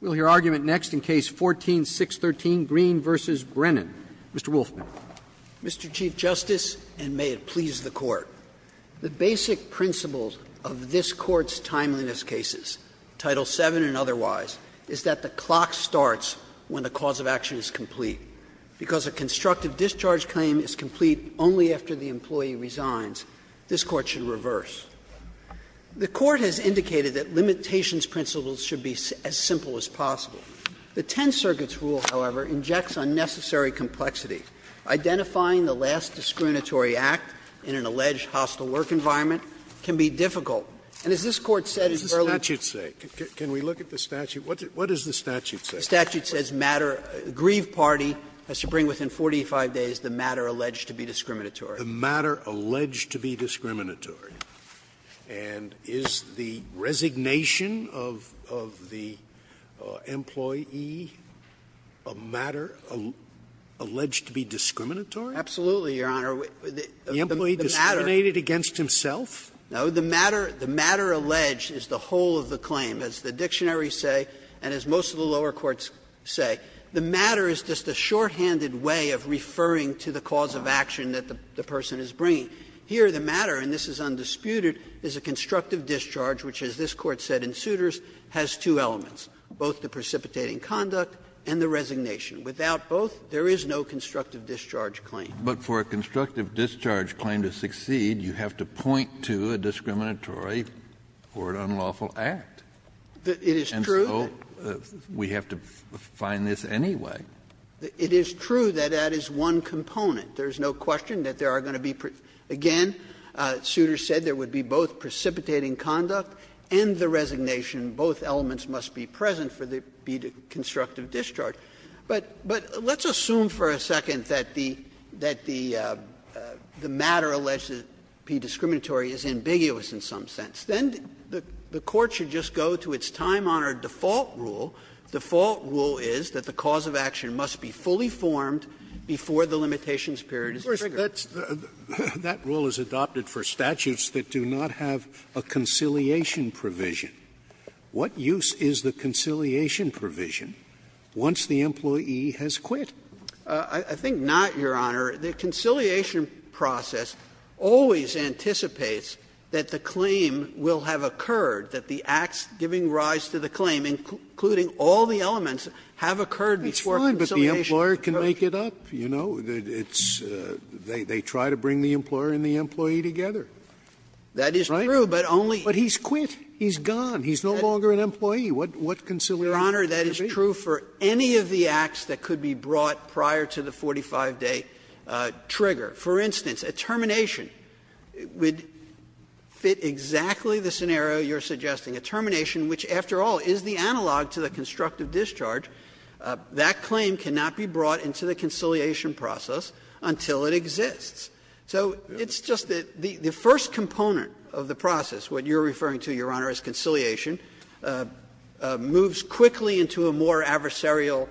We'll hear argument next in Case 14-613, Green v. Brennan. Mr. Wolfman. Mr. Chief Justice, and may it please the Court, the basic principles of this Court's timeliness cases, Title VII and otherwise, is that the clock starts when the cause of action is complete. Because a constructive discharge claim is complete only after the employee resigns, this Court should reverse. The Court has indicated that limitations principles should be as simple as possible. The Tenth Circuit's rule, however, injects unnecessary complexity. Identifying the last discriminatory act in an alleged hostile work environment can be difficult. And as this Court said in Burlington. Scalia What does the statute say? Can we look at the statute? What does the statute say? The statute says matter grieve party has to bring within 45 days the matter alleged to be discriminatory. The matter alleged to be discriminatory. And is the resignation of the employee a matter alleged to be discriminatory? Absolutely, Your Honor. The matter. The employee discriminated against himself? No. The matter alleged is the whole of the claim. As the dictionaries say and as most of the lower courts say, the matter is just a shorthanded way of referring to the cause of action that the person is bringing. Here, the matter, and this is undisputed, is a constructive discharge, which as this Court said in Souters, has two elements, both the precipitating conduct and the resignation. Without both, there is no constructive discharge claim. Kennedy But for a constructive discharge claim to succeed, you have to point to a discriminatory or an unlawful act. And so we have to find this anyway. It is true that that is one component. There is no question that there are going to be, again, Souters said, there would be both precipitating conduct and the resignation. Both elements must be present for there to be a constructive discharge. But let's assume for a second that the matter alleged to be discriminatory is ambiguous in some sense. Then the Court should just go to its time-honored default rule. The default rule is that the cause of action must be fully formed before the limitations period is triggered. Scalia Of course, that rule is adopted for statutes that do not have a conciliation provision. What use is the conciliation provision once the employee has quit? Kneedler I think not, Your Honor. The conciliation process always anticipates that the claim will have occurred, that the acts giving rise to the claim, including all the elements, have occurred before conciliation. Scalia That's fine, but the employer can make it up, you know. It's they try to bring the employer and the employee together. Kneedler That is true, but only. Scalia But he's quit. He's gone. He's no longer an employee. What conciliation provision? Kneedler Your Honor, that is true for any of the acts that could be brought prior to the 45-day trigger. For instance, a termination would fit exactly the scenario you're suggesting. A termination, which after all is the analog to the constructive discharge, that claim cannot be brought into the conciliation process until it exists. So it's just that the first component of the process, what you're referring to, Your Honor, as conciliation, moves quickly into a more adversarial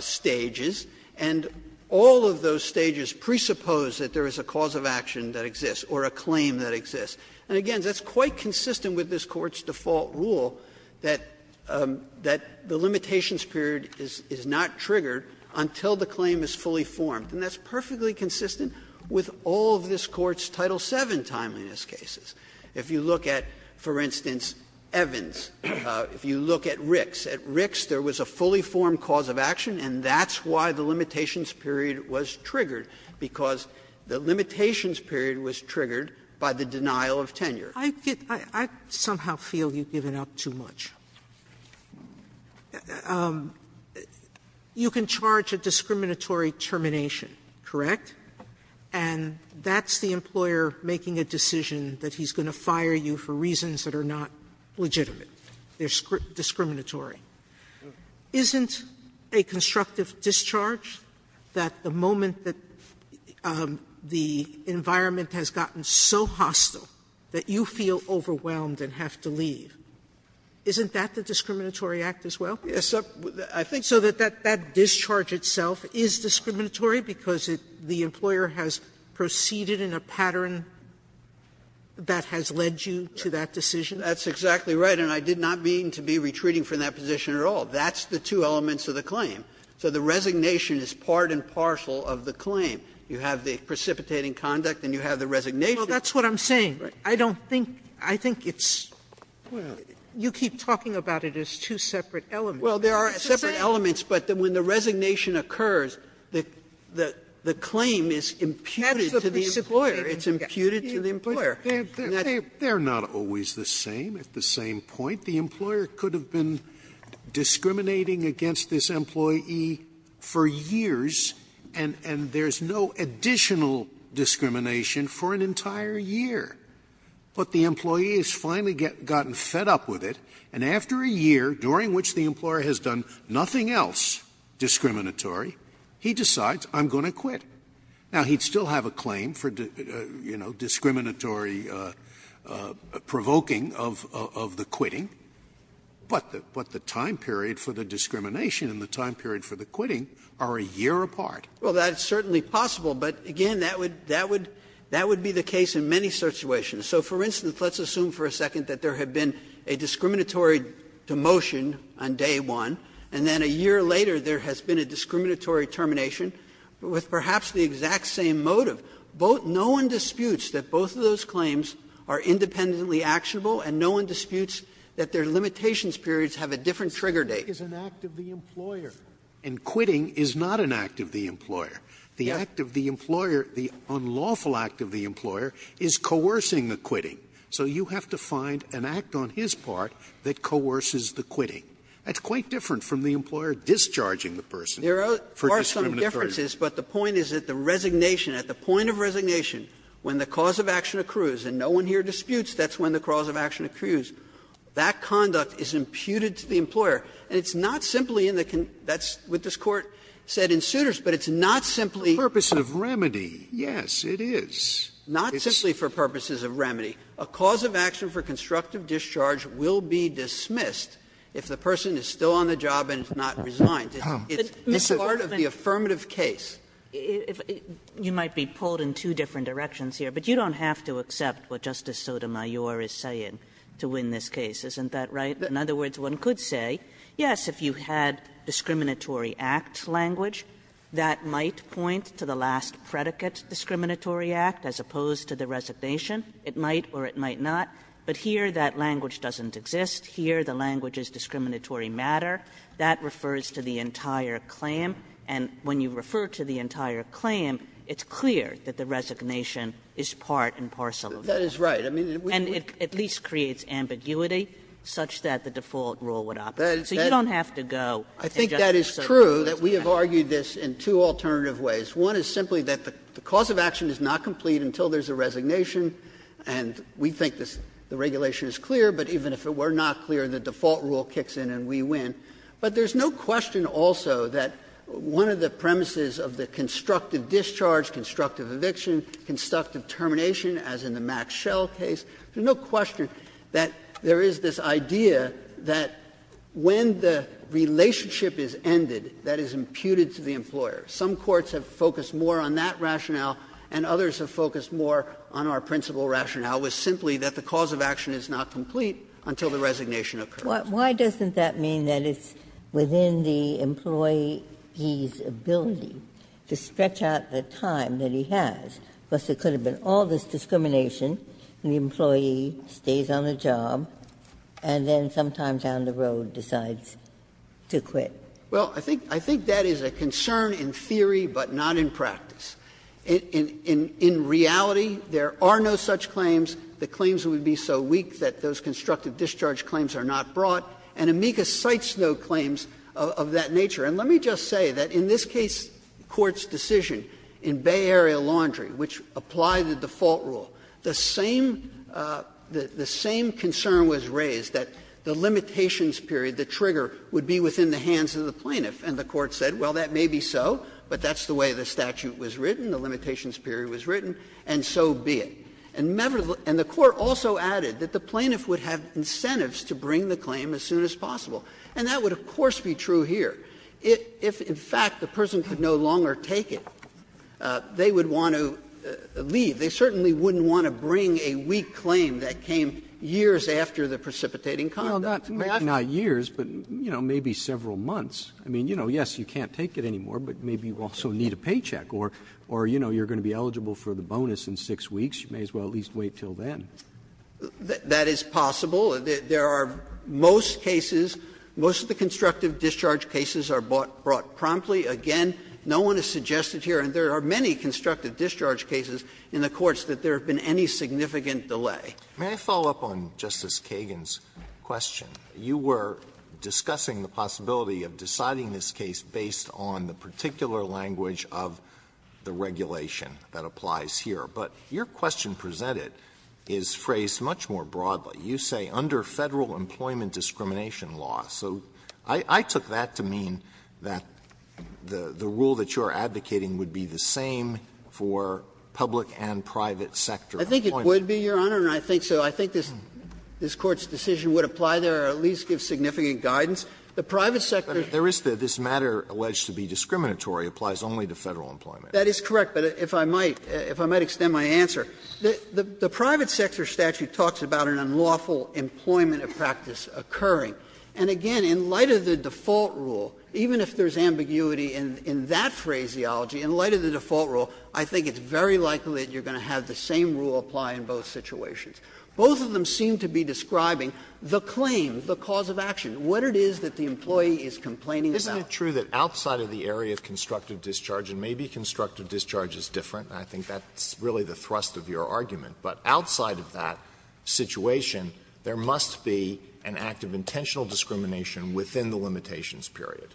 stages, and all of those stages presuppose that there is a cause of action that exists or a claim that exists. And again, that's quite consistent with this Court's default rule that the limitations period is not triggered until the claim is fully formed, and that's perfectly consistent with all of this Court's Title VII timeliness cases. If you look at, for instance, Evans, if you look at Ricks, at Ricks there was a fully I somehow feel you've given up too much. You can charge a discriminatory termination, correct? And that's the employer making a decision that he's going to fire you for reasons that are not legitimate, they're discriminatory. Sotomayor, that discharge, that the moment that the environment has gotten so hostile that you feel overwhelmed and have to leave, isn't that the discriminatory act as well? So that that discharge itself is discriminatory because the employer has proceeded in a pattern that has led you to that decision? That's exactly right, and I did not mean to be retreating from that position at all. That's the two elements of the claim. So the resignation is part and parcel of the claim. You have the precipitating conduct and you have the resignation. Sotomayor, that's what I'm saying. I don't think, I think it's, you keep talking about it as two separate elements. Sotomayor, that's what I'm saying. Sotomayor, but when the resignation occurs, the claim is imputed to the employer. It's imputed to the employer. Scalia, they're not always the same at the same point. The employer could have been discriminating against this employee for years, and there's no additional discrimination for an entire year. But the employee has finally gotten fed up with it, and after a year, during which the employer has done nothing else discriminatory, he decides, I'm going to quit. Now, he'd still have a claim for, you know, discriminatory provoking of the quitting. But the time period for the discrimination and the time period for the quitting are a year apart. Well, that's certainly possible, but again, that would be the case in many situations. So, for instance, let's assume for a second that there had been a discriminatory demotion on day one, and then a year later there has been a discriminatory termination with perhaps the exact same motive. No one disputes that both of those claims are independently actionable, and no one disputes that their limitations periods have a different trigger date. Scalia, and quitting is not an act of the employer. The act of the employer, the unlawful act of the employer, is coercing the quitting. So you have to find an act on his part that coerces the quitting. That's quite different from the employer discharging the person for discriminatory. There are some differences, but the point is that the resignation, at the point of resignation, when the cause of action accrues and no one here disputes, that's when the cause of action accrues, that conduct is imputed to the employer. And it's not simply in the con ---- that's what this Court said in Souters, but it's not simply the purpose of remedy. Yes, it is. It's not simply for purposes of remedy. A cause of action for constructive discharge will be dismissed if the person is still on the job and is not resigned. It's part of the affirmative case. Kagan. Kagan. Kagan, you might be pulled in two different directions here, but you don't have to accept what Justice Sotomayor is saying to win this case, isn't that right? In other words, one could say, yes, if you had discriminatory act language, that might point to the last predicate, discriminatory act, as opposed to the resignation, it might or it might not. But here, that language doesn't exist. Here, the language is discriminatory matter. That refers to the entire claim. And when you refer to the entire claim, it's clear that the resignation is part and parcel of the claim. And it at least creates ambiguity such that the default rule would operate. So you don't have to go and say Justice Sotomayor is correct. I think that is true, that we have argued this in two alternative ways. One is simply that the cause of action is not complete until there is a resignation, and we think the regulation is clear, but even if it were not clear, the default rule kicks in and we win. But there is no question also that one of the premises of the constructive discharge, constructive eviction, constructive termination, as in the Max Schell case, there is no question that there is this idea that when the relationship is ended, that is imputed to the employer. Some courts have focused more on that rationale and others have focused more on our principal rationale, which is simply that the cause of action is not complete until the resignation occurs. Ginsburg. Why doesn't that mean that it's within the employee's ability to stretch out the time that he has? Because there could have been all this discrimination, and the employee stays on the job and then sometimes down the road decides to quit. Well, I think that is a concern in theory, but not in practice. In reality, there are no such claims, the claims would be so weak that those constructive discharge claims are not brought, and amicus cites no claims of that nature. And let me just say that in this case, the Court's decision in Bay Area Laundry, which applied the default rule, the same concern was raised, that the limitations period, the trigger, would be within the hands of the plaintiff. And the Court said, well, that may be so, but that's the way the statute was written, the limitations period was written, and so be it. And the Court also added that the plaintiff would have incentives to bring the claim as soon as possible, and that would, of course, be true here. If, in fact, the person could no longer take it, they would want to leave. They certainly wouldn't want to bring a weak claim that came years after the precipitating Roberts. Not years, but, you know, maybe several months. I mean, you know, yes, you can't take it anymore, but maybe you also need a paycheck, or, you know, you're going to be eligible for the bonus in 6 weeks. You may as well at least wait until then. That is possible. There are most cases, most of the constructive discharge cases are brought promptly. Again, no one has suggested here, and there are many constructive discharge cases in the courts, that there have been any significant delay. Alito, may I follow up on Justice Kagan's question? You were discussing the possibility of deciding this case based on the particular language of the regulation that applies here. But your question presented is phrased much more broadly. You say, under Federal employment discrimination law. So I took that to mean that the rule that you are advocating would be the same for public and private sector employment. I think it would be, Your Honor, and I think so. I think this Court's decision would apply there or at least give significant guidance. The private sector. Alito, there is this matter alleged to be discriminatory, applies only to Federal employment. That is correct, but if I might, if I might extend my answer. The private sector statute talks about an unlawful employment of practice occurring. And again, in light of the default rule, even if there is ambiguity in that phraseology, in light of the default rule, I think it's very likely that you're going to have the same rule apply in both situations. Both of them seem to be describing the claim, the cause of action, what it is that the employee is complaining about. Alito, isn't it true that outside of the area of constructive discharge, and maybe constructive discharge is different, and I think that's really the thrust of your argument, but outside of that situation, there must be an act of intentional discrimination within the limitations period?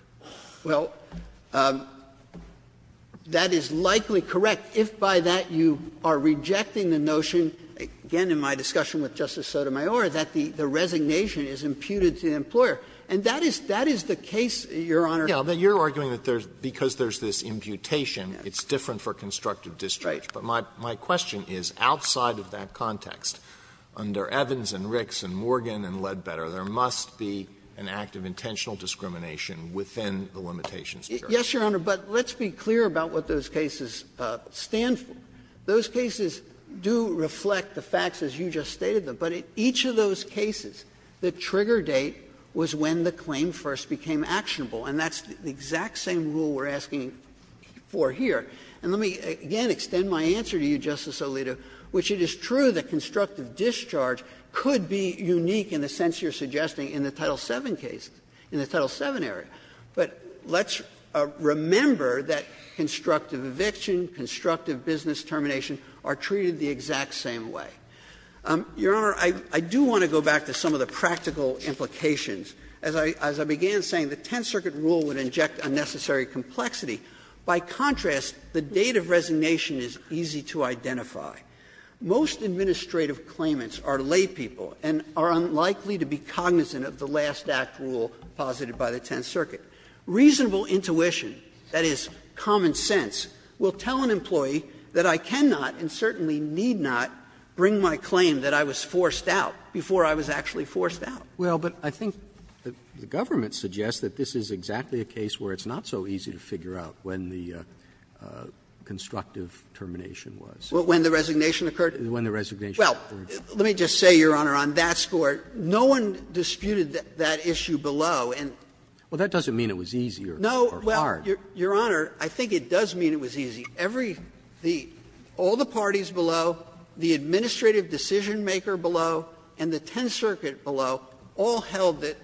Well, that is likely correct if by that you are rejecting the notion, again in my discussion with Justice Sotomayor, that the resignation is imputed to the employer. And that is, that is the case, Your Honor. Yes, but you're arguing that there's, because there's this imputation, it's different for constructive discharge. Right. But my question is, outside of that context, under Evans and Ricks and Morgan and Ledbetter, there must be an act of intentional discrimination within the limitations period. Yes, Your Honor, but let's be clear about what those cases stand for. Those cases do reflect the facts as you just stated them, but each of those cases, the trigger date was when the claim first became actionable, and that's the exact same rule we're asking for here. And let me again extend my answer to you, Justice Alito, which it is true that constructive discharge could be unique in the sense you're suggesting in the Title VII case, in the Title VII area, but let's remember that constructive eviction, constructive business termination are treated the exact same way. Your Honor, I do want to go back to some of the practical implications. As I began saying, the Tenth Circuit rule would inject unnecessary complexity. By contrast, the date of resignation is easy to identify. Most administrative claimants are laypeople and are unlikely to be cognizant of the last act rule posited by the Tenth Circuit. Reasonable intuition, that is, common sense, will tell an employee that I cannot and certainly need not bring my claim that I was forced out before I was actually forced out. Roberts. Well, but I think the government suggests that this is exactly a case where it's not so easy to figure out when the constructive termination was. When the resignation occurred? When the resignation occurred. Well, let me just say, Your Honor, on that score, no one disputed that issue below and. Well, that doesn't mean it was easy or hard. No, well, Your Honor, I think it does mean it was easy. Every the all the parties below, the administrative decisionmaker below, and the Tenth Circuit below, all held that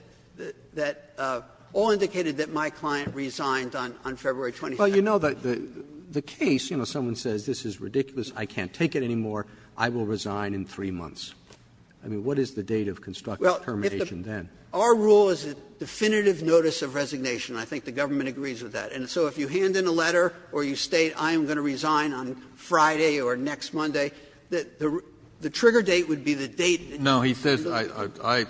that all indicated that my client resigned on February 22nd. Well, you know, the case, you know, someone says this is ridiculous, I can't take it anymore, I will resign in three months. I mean, what is the date of constructive termination then? Well, if the rule is a definitive notice of resignation, I think the government agrees with that. And so if you hand in a letter or you state I am going to resign on Friday or next Monday, the trigger date would be the date. No, he says, I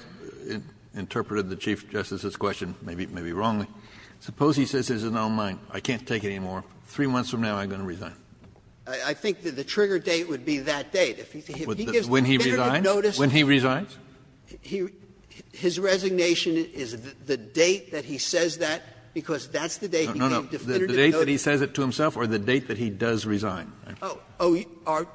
interpreted the Chief Justice's question maybe wrongly. Suppose he says this is not on mine, I can't take it anymore, three months from now I'm going to resign. I think that the trigger date would be that date. When he resigns? When he resigns? The date that he says it to himself or the date that he does resign? Oh,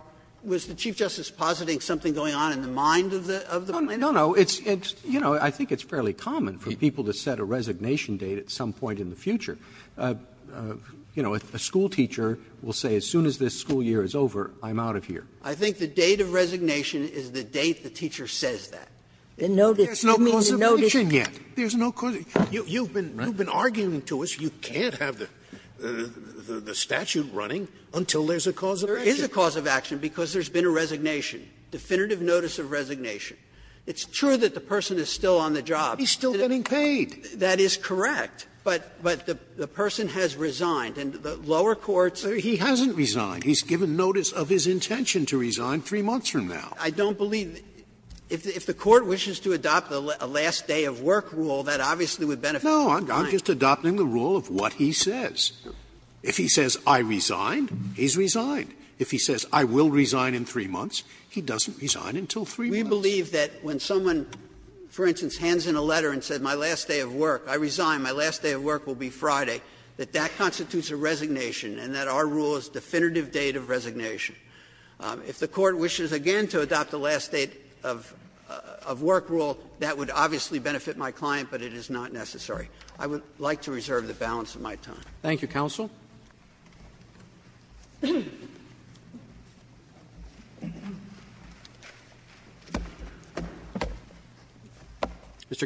was the Chief Justice positing something going on in the mind of the plaintiff? No, no. It's, you know, I think it's fairly common for people to set a resignation date at some point in the future. You know, a schoolteacher will say as soon as this school year is over, I'm out of here. I think the date of resignation is the date the teacher says that. There's no causation yet. There's no causation. You've been arguing to us you can't have the statute running until there's a cause of action. There is a cause of action because there's been a resignation, definitive notice of resignation. It's true that the person is still on the job. He's still getting paid. That is correct. But the person has resigned, and the lower courts are saying he hasn't resigned. He's given notice of his intention to resign three months from now. I don't believe that the Court wishes to adopt a last day of work rule, that obviously would benefit the client. No, I'm just adopting the rule of what he says. If he says I resigned, he's resigned. If he says I will resign in three months, he doesn't resign until three months. We believe that when someone, for instance, hands in a letter and says my last day of work, I resign, my last day of work will be Friday, that that constitutes a resignation and that our rule is definitive date of resignation. If the Court wishes again to adopt the last day of work rule, that would obviously benefit my client, but it is not necessary. I would like to reserve the balance of my time. Roberts. Thank you, counsel. Mr.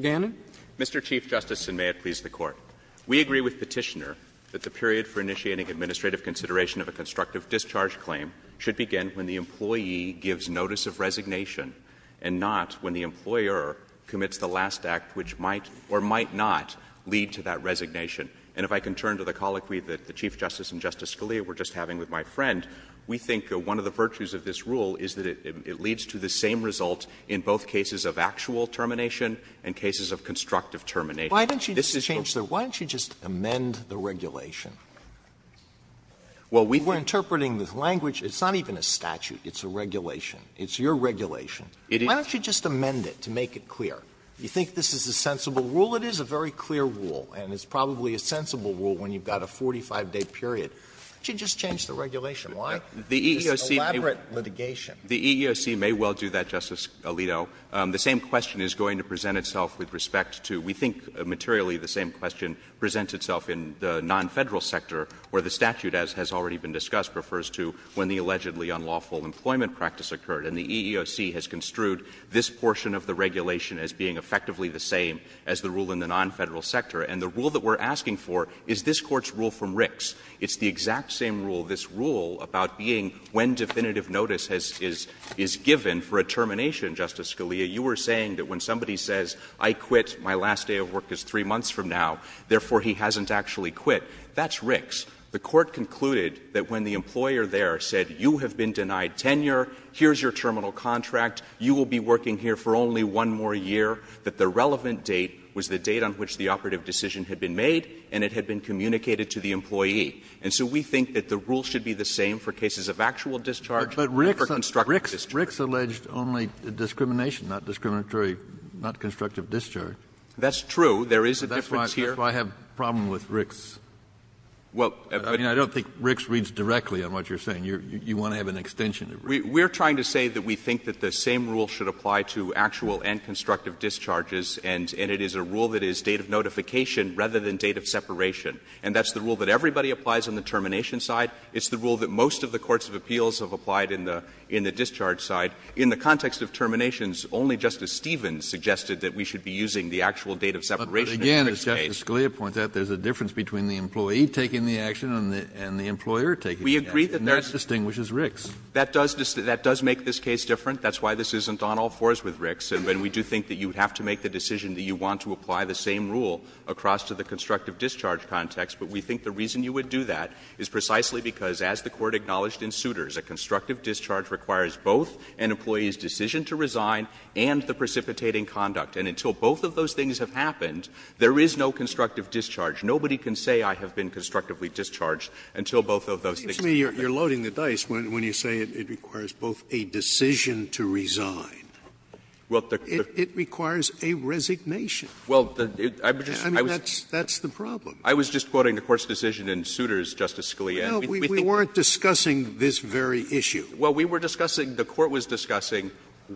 Gannon. Mr. Chief Justice, and may it please the Court. We agree with Petitioner that the period for initiating administrative consideration of a constructive discharge claim should begin when the employee gives notice of resignation and not when the employer commits the last act which might or might not lead to that resignation. And if I can turn to the colloquy that the Chief Justice and Justice Scalia were just having with my friend, we think one of the virtues of this rule is that it leads to the same result in both cases of actual termination and cases of constructive termination. This is what's going to happen. The EEOC may well do that, Justice Alito. The same question is going to present itself with respect to, we think materially the same question presents itself in the non-Federal sector where the statute, as has already been discussed, refers to when the allegedly unlawful employment practice occurred. And the EEOC has construed this portion of the regulation as being effectively the same as the rule in the non-Federal sector. And the rule that we're asking for is this Court's rule from Ricks. It's the exact same rule, this rule about being when definitive notice is given for a termination, Justice Scalia. You were saying that when somebody says, I quit, my last day of work is three months from now, therefore, he hasn't actually quit. That's Ricks. The Court concluded that when the employer there said, you have been denied tenure, here's your terminal contract, you will be working here for only one more year, that the relevant date was the date on which the operative decision had been made and it had been communicated to the employee. And so we think that the rule should be the same for cases of actual discharge or constructive discharge. Kennedy. But Ricks alleged only discrimination, not discriminatory, not constructive discharge. That's true. There is a difference here. That's why I have a problem with Ricks. I mean, I don't think Ricks reads directly on what you're saying. You want to have an extension of Ricks. We're trying to say that we think that the same rule should apply to actual and constructive discharges, and it is a rule that is date of notification rather than date of separation. And that's the rule that everybody applies on the termination side. It's the rule that most of the courts of appeals have applied in the discharge side. In the context of terminations, only Justice Stevens suggested that we should be using the actual date of separation in Ricks' case. But again, as Justice Scalia points out, there's a difference between the employee taking the action and the employer taking the action. We agree that there's not. And that distinguishes Ricks. That does make this case different. That's why this isn't on all fours with Ricks. And we do think that you have to make the decision that you want to apply the same rule across to the constructive discharge context. But we think the reason you would do that is precisely because, as the Court acknowledged in Souters, a constructive discharge requires both an employee's decision to resign and the precipitating conduct. And until both of those things have happened, there is no constructive discharge. Nobody can say I have been constructively discharged until both of those things have happened. Scalia, when you say it requires both a decision to resign, it requires a resignation. I mean, that's the problem. I was just quoting the Court's decision in Souters, Justice Scalia. We weren't discussing this very issue. Well, we were discussing, the Court was discussing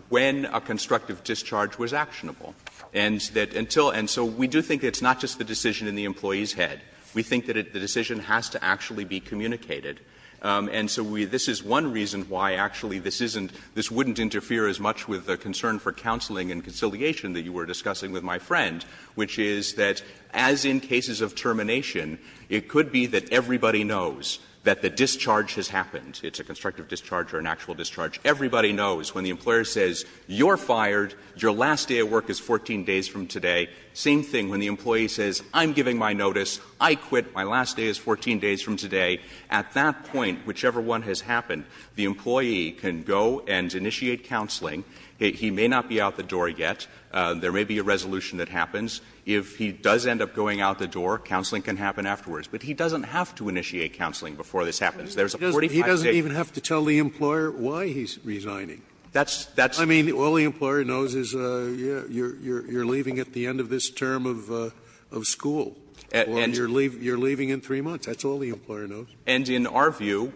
when a constructive discharge was actionable. And so we do think it's not just the decision in the employee's head. We think that the decision has to actually be communicated. And so this is one reason why, actually, this wouldn't interfere as much with the concern for counseling and conciliation that you were discussing with my friend, which is that, as in cases of termination, it could be that everybody knows that the discharge has happened. It's a constructive discharge or an actual discharge. Everybody knows when the employer says, you're fired, your last day at work is 14 days from today, same thing when the employee says, I'm giving my notice, I quit, my last day is 14 days from today, at that point, whichever one has happened, the employee can go and initiate counseling. He may not be out the door yet. There may be a resolution that happens. If he does end up going out the door, counseling can happen afterwards. But he doesn't have to initiate counseling before this happens. There's a 45-day period. Scalia, he's resigning. I mean, all the employer knows is, you're leaving at the end of this term of school. Or you're leaving in 3 months. That's all the employer knows. And in our view,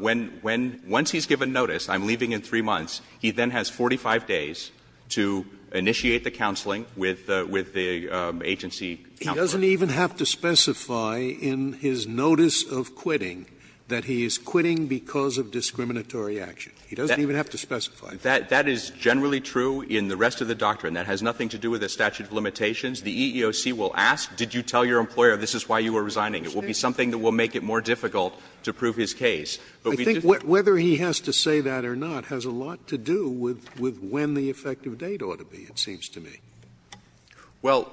when he's given notice, I'm leaving in 3 months, he then has 45 days to initiate the counseling with the agency counselor. He doesn't even have to specify in his notice of quitting that he is quitting because of discriminatory action. He doesn't even have to specify. That is generally true in the rest of the doctrine. That has nothing to do with the statute of limitations. The EEOC will ask, did you tell your employer this is why you are resigning? It will be something that will make it more difficult to prove his case. But we don't I think whether he has to say that or not has a lot to do with when the effective date ought to be, it seems to me. Well,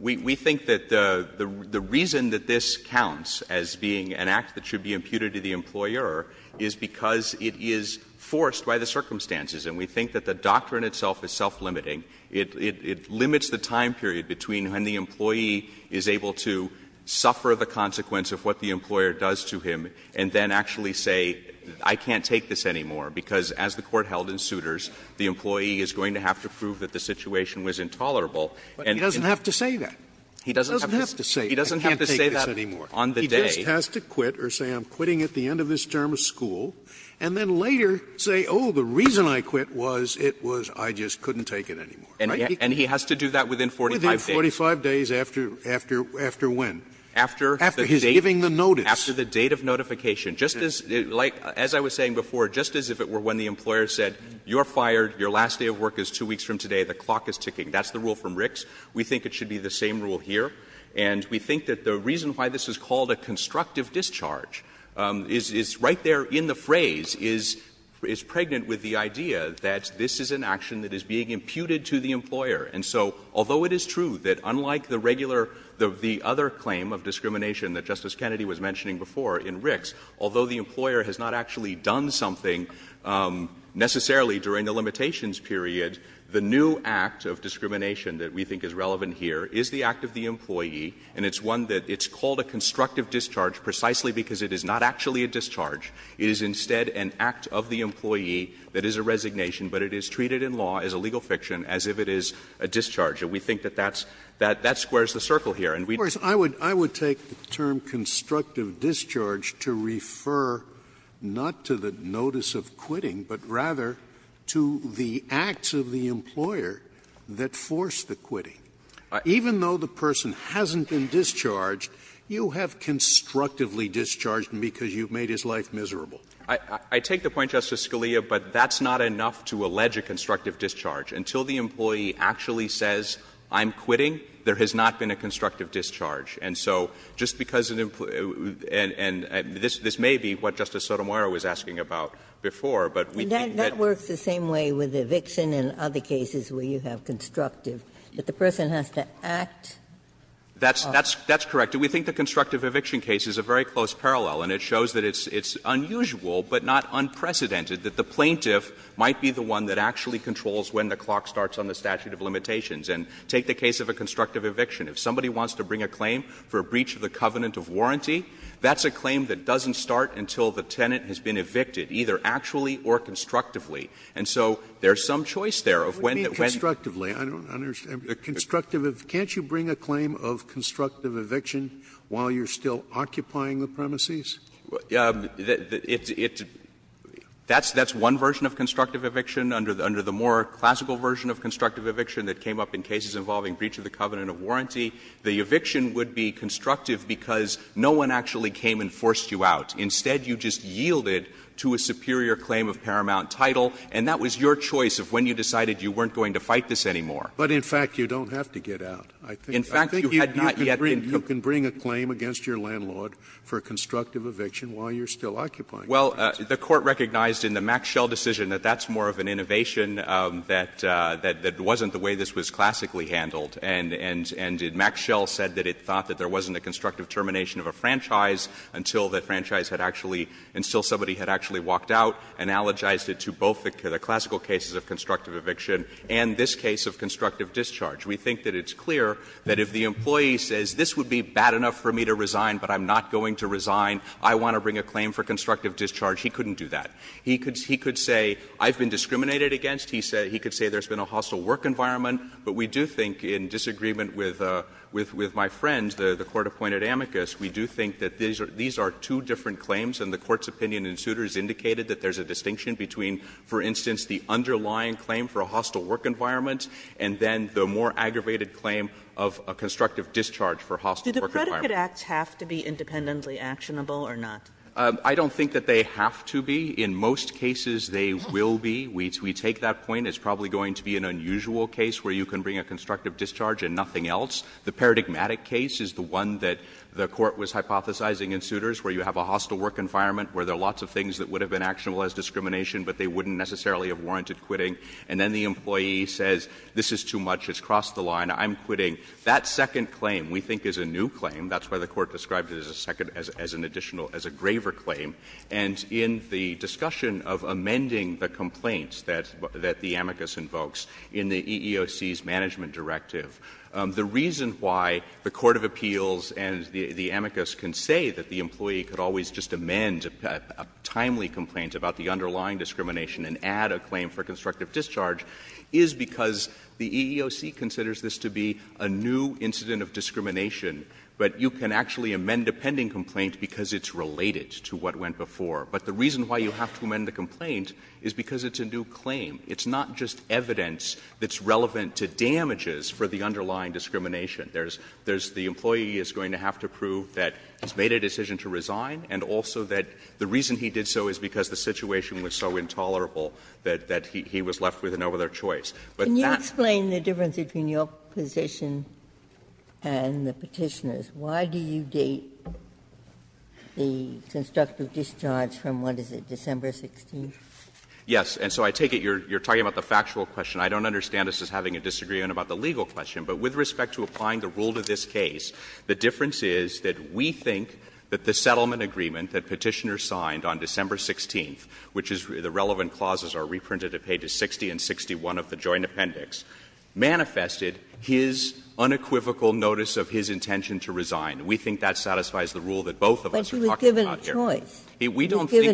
we think that the reason that this counts as being an act that should be imputed to the employer is because it is forced by the circumstances. And we think that the doctrine itself is self-limiting. It limits the time period between when the employee is able to suffer the consequence of what the employer does to him and then actually say, I can't take this anymore, because as the Court held in Souters, the employee is going to have to prove that the situation was intolerable. But he doesn't have to say that. He doesn't have to say that on the day. He just has to quit or say, I'm quitting at the end of this term of school, and then later say, oh, the reason I quit was, it was I just couldn't take it anymore. Right? And he has to do that within 45 days. Within 45 days after when? After the date. After his giving the notice. After the date of notification. Just as, as I was saying before, just as if it were when the employer said, you're fired, your last day of work is two weeks from today, the clock is ticking, that's the rule from Ricks, we think it should be the same rule here. And we think that the reason why this is called a constructive discharge is right there in the phrase, is pregnant with the idea that this is an action that is being imputed to the employer. And so, although it is true that unlike the regular, the other claim of discrimination that Justice Kennedy was mentioning before in Ricks, although the employer has not actually done something necessarily during the limitations period, the new act of discrimination that we think is relevant here is the act of the employee, and it's one that it's called a constructive discharge precisely because it is not actually a discharge. It is instead an act of the employee that is a resignation, but it is treated in law as a legal fiction as if it is a discharge. And we think that that's, that that squares the circle here. And we'd like to see that. Scalia, I would, I would take the term constructive discharge to refer not to the acts of the employer that force the quitting. Even though the person hasn't been discharged, you have constructively discharged him because you've made his life miserable. I, I take the point, Justice Scalia, but that's not enough to allege a constructive discharge. Until the employee actually says, I'm quitting, there has not been a constructive discharge. And so, just because an employer, and, and this, this may be what Justice Sotomayor was asking about before, but we think that. Ginsburg. That works the same way with eviction and other cases where you have constructive, that the person has to act. That's, that's, that's correct. And we think the constructive eviction case is a very close parallel, and it shows that it's, it's unusual, but not unprecedented, that the plaintiff might be the one that actually controls when the clock starts on the statute of limitations. And take the case of a constructive eviction. If somebody wants to bring a claim for a breach of the covenant of warranty, that's a claim that doesn't start until the tenant has been evicted, either actually or constructively. And so, there's some choice there of when, when. Sotomayor. What do you mean constructively? I don't understand. Constructive, can't you bring a claim of constructive eviction while you're still occupying the premises? It's, it's, that's, that's one version of constructive eviction. Under, under the more classical version of constructive eviction that came up in cases involving breach of the covenant of warranty, the eviction would be constructive because no one actually came and forced you out. Instead, you just yielded to a superior claim of paramount title, and that was your choice of when you decided you weren't going to fight this anymore. But, in fact, you don't have to get out. I think you had not yet been. You can bring a claim against your landlord for a constructive eviction while you're still occupying the premises. Well, the Court recognized in the Max Schell decision that that's more of an innovation that, that, that wasn't the way this was classically handled, and, and, and Max Schell said that it thought that there wasn't a constructive termination of a franchise until the franchise had actually, until somebody had actually walked out and analogized it to both the, the classical cases of constructive eviction and this case of constructive discharge. We think that it's clear that if the employee says this would be bad enough for me to resign, but I'm not going to resign, I want to bring a claim for constructive discharge, he couldn't do that. He could, he could say I've been discriminated against. He said, he could say there's been a hostile work environment. But we do think in disagreement with, with, with my friend, the, the Court-appointed amicus, we do think that these are, these are two different claims, and the Court's opinion in Souter's indicated that there's a distinction between, for instance, the underlying claim for a hostile work environment and then the more aggravated claim of a constructive discharge for a hostile work environment. Kagan Do the predicate acts have to be independently actionable or not? I don't think that they have to be. In most cases, they will be. We, we take that point. It's probably going to be an unusual case where you can bring a constructive discharge and nothing else. The paradigmatic case is the one that the Court was hypothesizing in Souter's, where you have a hostile work environment, where there are lots of things that would have been actionable as discrimination, but they wouldn't necessarily have warranted quitting, and then the employee says, this is too much, it's crossed the line, I'm quitting. That second claim we think is a new claim. That's why the Court described it as a second, as an additional, as a graver claim. And in the discussion of amending the complaints that, that the amicus invokes in the EEOC's management directive, the reason why the Court of Appeals and the amicus can say that the employee could always just amend a timely complaint about the underlying discrimination and add a claim for constructive discharge is because the EEOC considers this to be a new incident of discrimination, but you can actually amend a pending complaint because it's related to what went before. But the reason why you have to amend the complaint is because it's a new claim. It's not just evidence that's relevant to damages for the underlying discrimination. There's, there's, the employee is going to have to prove that he's made a decision to resign, and also that the reason he did so is because the situation was so intolerable that, that he was left with no other choice. But that's. Ginsburg. Can you explain the difference between your position and the Petitioner's? Why do you date the constructive discharge from, what is it, December 16th? Yes. And so I take it you're, you're talking about the factual question. I don't understand this as having a disagreement about the legal question. But with respect to applying the rule to this case, the difference is that we think that the settlement agreement that Petitioner signed on December 16th, which is the relevant clauses are reprinted at pages 60 and 61 of the Joint Appendix, manifested his unequivocal notice of his intention to resign. We think that satisfies the rule that both of us are talking about here. We don't think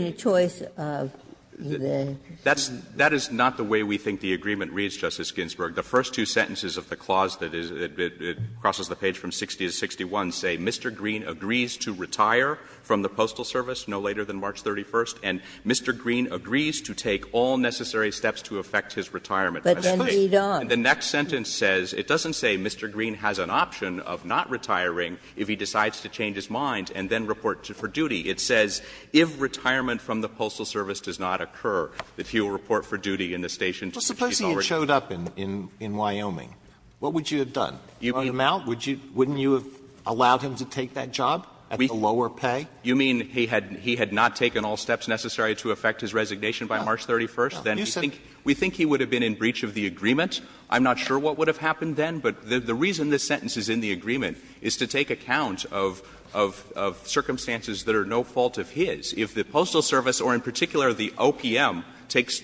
that's the way we think the agreement reads, Justice Ginsburg. The first two sentences of the clause that is, it crosses the page from 60 to 61 say, Mr. Green agrees to retire from the Postal Service no later than March 31st, and Mr. Green agrees to take all necessary steps to affect his retirement by that date. But then read on. The next sentence says, it doesn't say Mr. Green has an option of not retiring if he decides to change his mind and then report for duty. It says, if retirement from the Postal Service does not occur, that he will report for duty in the station until he's already retired. Alito, what would you have done? Throw him out? Wouldn't you have allowed him to take that job at the lower pay? You mean he had not taken all steps necessary to affect his resignation by March 31st? Then we think he would have been in breach of the agreement. I'm not sure what would have happened then, but the reason this sentence is in the Postal Service or in particular the OPM takes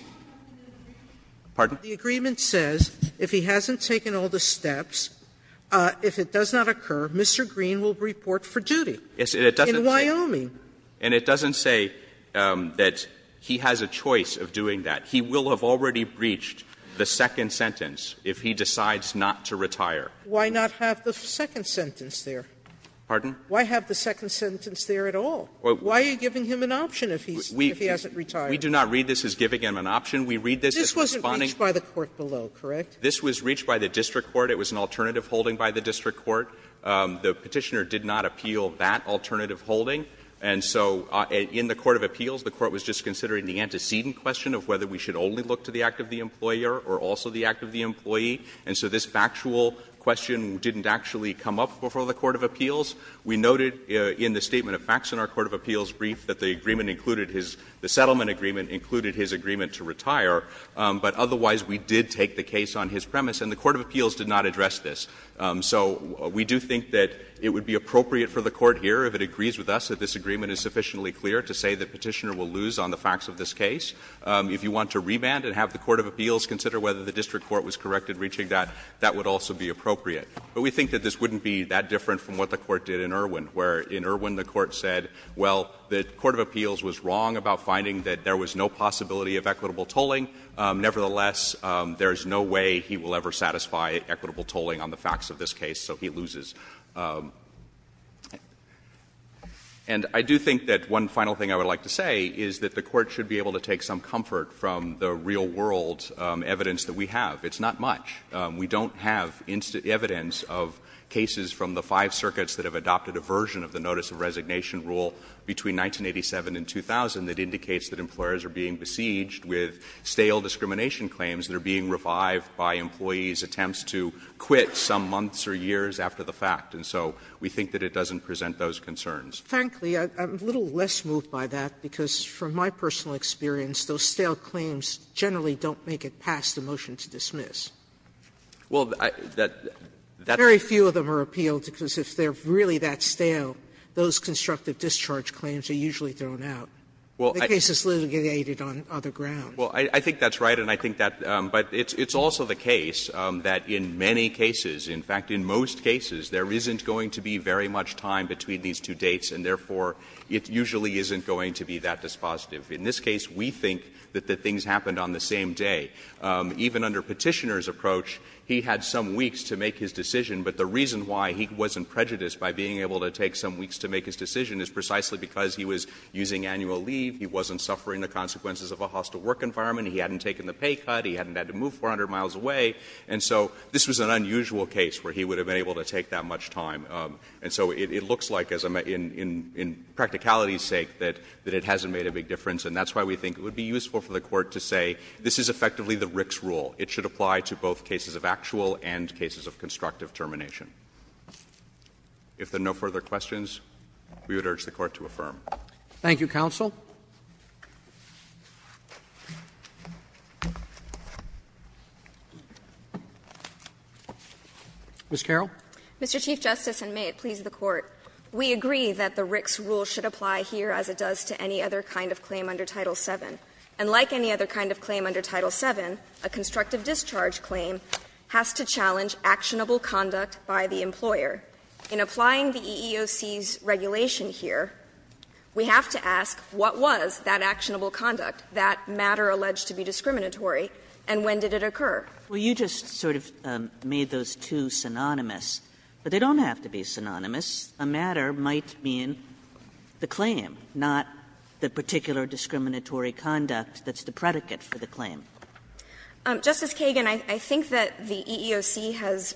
the agreement says, if he hasn't taken all the steps, if it does not occur, Mr. Green will report for duty in Wyoming. And it doesn't say that he has a choice of doing that. He will have already breached the second sentence if he decides not to retire. Why not have the second sentence there? Pardon? Why have the second sentence there at all? Why are you giving him an option if he hasn't retired? We do not read this as giving him an option. We read this as responding to the Court's opinion. This wasn't reached by the court below, correct? This was reached by the district court. It was an alternative holding by the district court. The Petitioner did not appeal that alternative holding. And so in the court of appeals, the court was just considering the antecedent question of whether we should only look to the act of the employer or also the act And so this factual question didn't actually come up before the court of appeals. We noted in the statement of facts in our court of appeals brief that the settlement agreement included his agreement to retire. But otherwise, we did take the case on his premise, and the court of appeals did not address this. So we do think that it would be appropriate for the court here, if it agrees with us, that this agreement is sufficiently clear to say that Petitioner will lose on the facts of this case. If you want to remand and have the court of appeals consider whether the district court was corrected reaching that, that would also be appropriate. But we think that this wouldn't be that different from what the court did in Irwin, where in Irwin the court said, well, the court of appeals was wrong about finding that there was no possibility of equitable tolling. Nevertheless, there is no way he will ever satisfy equitable tolling on the facts of this case, so he loses. And I do think that one final thing I would like to say is that the court should be able to take some comfort from the real world evidence that we have. It's not much. We don't have evidence of cases from the five circuits that have adopted a version of the notice of resignation rule between 1987 and 2000 that indicates that employers are being besieged with stale discrimination claims that are being revived by employees' attempts to quit some months or years after the fact. And so we think that it doesn't present those concerns. Sotomayor, I'm a little less moved by that, because from my personal experience those stale claims generally don't make it past the motion to dismiss. Very few of them are appealed, because if they're really that stale, those constructive discharge claims are usually thrown out. The case is litigated on other grounds. Well, I think that's right, and I think that but it's also the case that in many cases, in fact in most cases, there isn't going to be very much time between these two dates, and therefore it usually isn't going to be that dispositive. In this case, we think that the things happened on the same day. Even under Petitioner's approach, he had some weeks to make his decision, but the reason why he wasn't prejudiced by being able to take some weeks to make his decision is precisely because he was using annual leave, he wasn't suffering the consequences of a hostile work environment, he hadn't taken the pay cut, he hadn't had to move 400 miles away. And so this was an unusual case where he would have been able to take that much time. And so it looks like, in practicality's sake, that it hasn't made a big difference. And that's why we think it would be useful for the Court to say this is effectively the Rick's rule. It should apply to both cases of actual and cases of constructive termination. If there are no further questions, we would urge the Court to affirm. Roberts. Thank you, counsel. Ms. Carroll. Mr. Chief Justice, and may it please the Court, we agree that the Rick's rule should apply here as it does to any other kind of claim under Title VII. And like any other kind of claim under Title VII, a constructive discharge claim has to challenge actionable conduct by the employer. In applying the EEOC's regulation here, we have to ask what was that actionable conduct, that matter alleged to be discriminatory, and when did it occur? Well, you just sort of made those two synonymous, but they don't have to be synonymous. A matter might mean the claim, not the particular discriminatory conduct that's the predicate for the claim. Justice Kagan, I think that the EEOC has,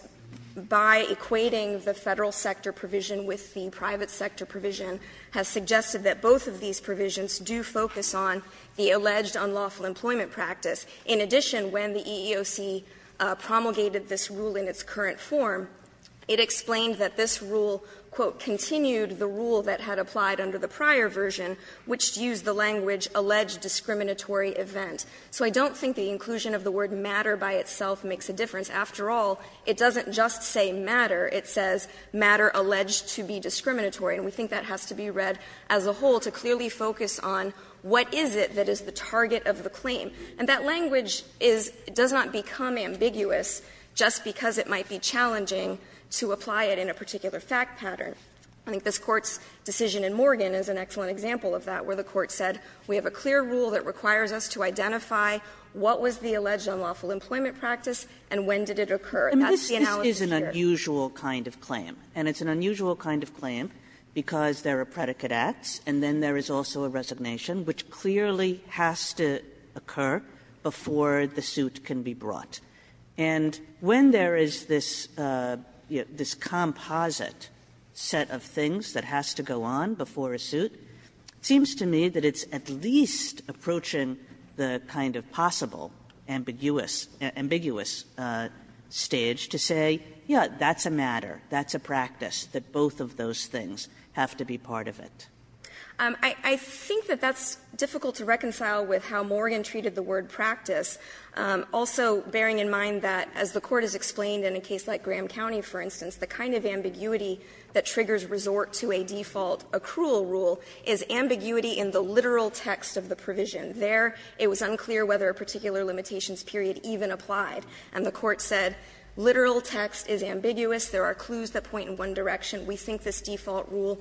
by equating the Federal sector provision with the private sector provision, has suggested that both of these provisions do focus on the alleged unlawful employment practice. In addition, when the EEOC promulgated this rule in its current form, it explained that this rule, quote, continued the rule that had applied under the prior version, which used the language alleged discriminatory event. So I don't think the inclusion of the word matter by itself makes a difference. After all, it doesn't just say matter, it says matter alleged to be discriminatory. And we think that has to be read as a whole to clearly focus on what is it that is the target of the claim. And that language is does not become ambiguous just because it might be challenging to apply it in a particular fact pattern. I think this Court's decision in Morgan is an excellent example of that, where the Court said we have a clear rule that requires us to identify what was the alleged unlawful employment practice and when did it occur. That's the analysis here. Kagan. Kagan. Kagan. Kagan. Kagan. Kagan. Kagan. Kagan. Kagan. Kagan. Kagan. Kagan. Kagan. Kagan. Kagan. Kagan. Kagan. And when there is this composite set of things that has to go on before a suit, it seems to me that it's at least approaching the kind of possible ambiguous stage to say, yes, that's a matter, that's a practice, that both of those things have to be part of it. I think that that's difficult to reconcile with how Morgan treated the word practice, also bearing in mind that as the Court has explained in a case like Graham County, for instance, the kind of ambiguity that triggers resort to a default accrual rule is ambiguity in the literal text of the provision. There it was unclear whether a particular limitations period even applied, and the Court said literal text is ambiguous, there are clues that point in one direction. We think this default rule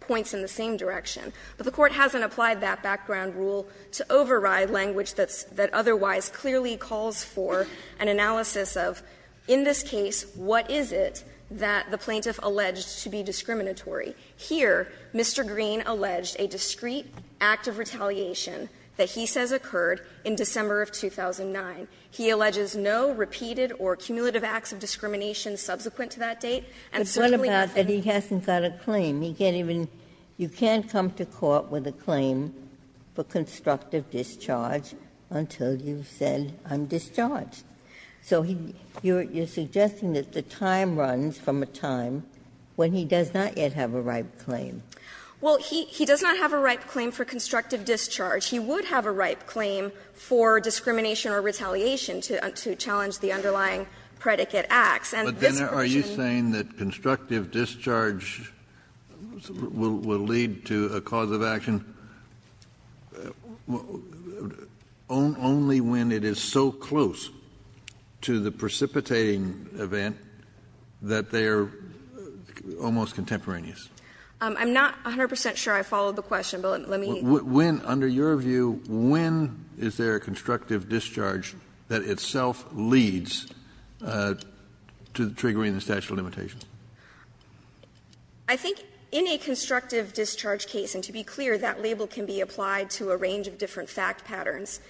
points in the same direction. But the Court hasn't applied that background rule to override language that's otherwise clearly calls for an analysis of, in this case, what is it that the plaintiff alleged to be discriminatory? Here, Mr. Green alleged a discrete act of retaliation that he says occurred in December of 2009. He alleges no repeated or cumulative acts of discrimination subsequent to that date. And certainly the plaintiff's claim is that he has not had a repeated act of discrimination. Ginsburg-McCarran, Jr.: But what about that he hasn't got a claim? He can't even come to court with a claim for constructive discharge until you've said, I'm discharged. So you're suggesting that the time runs from a time when he does not yet have a ripe claim. Well, he does not have a ripe claim for constructive discharge. He would have a ripe claim for discrimination or retaliation to challenge the underlying predicate acts. But then are you saying that constructive discharge will lead to a cause of action only when it is so close to the precipitating event that they are almost contemporaneous? I'm not 100 percent sure I followed the question, but let me... When, under your view, when is there constructive discharge that itself leads to triggering the statute of limitations? I think in a constructive discharge case, and to be clear, that label can be applied to a range of different fact patterns,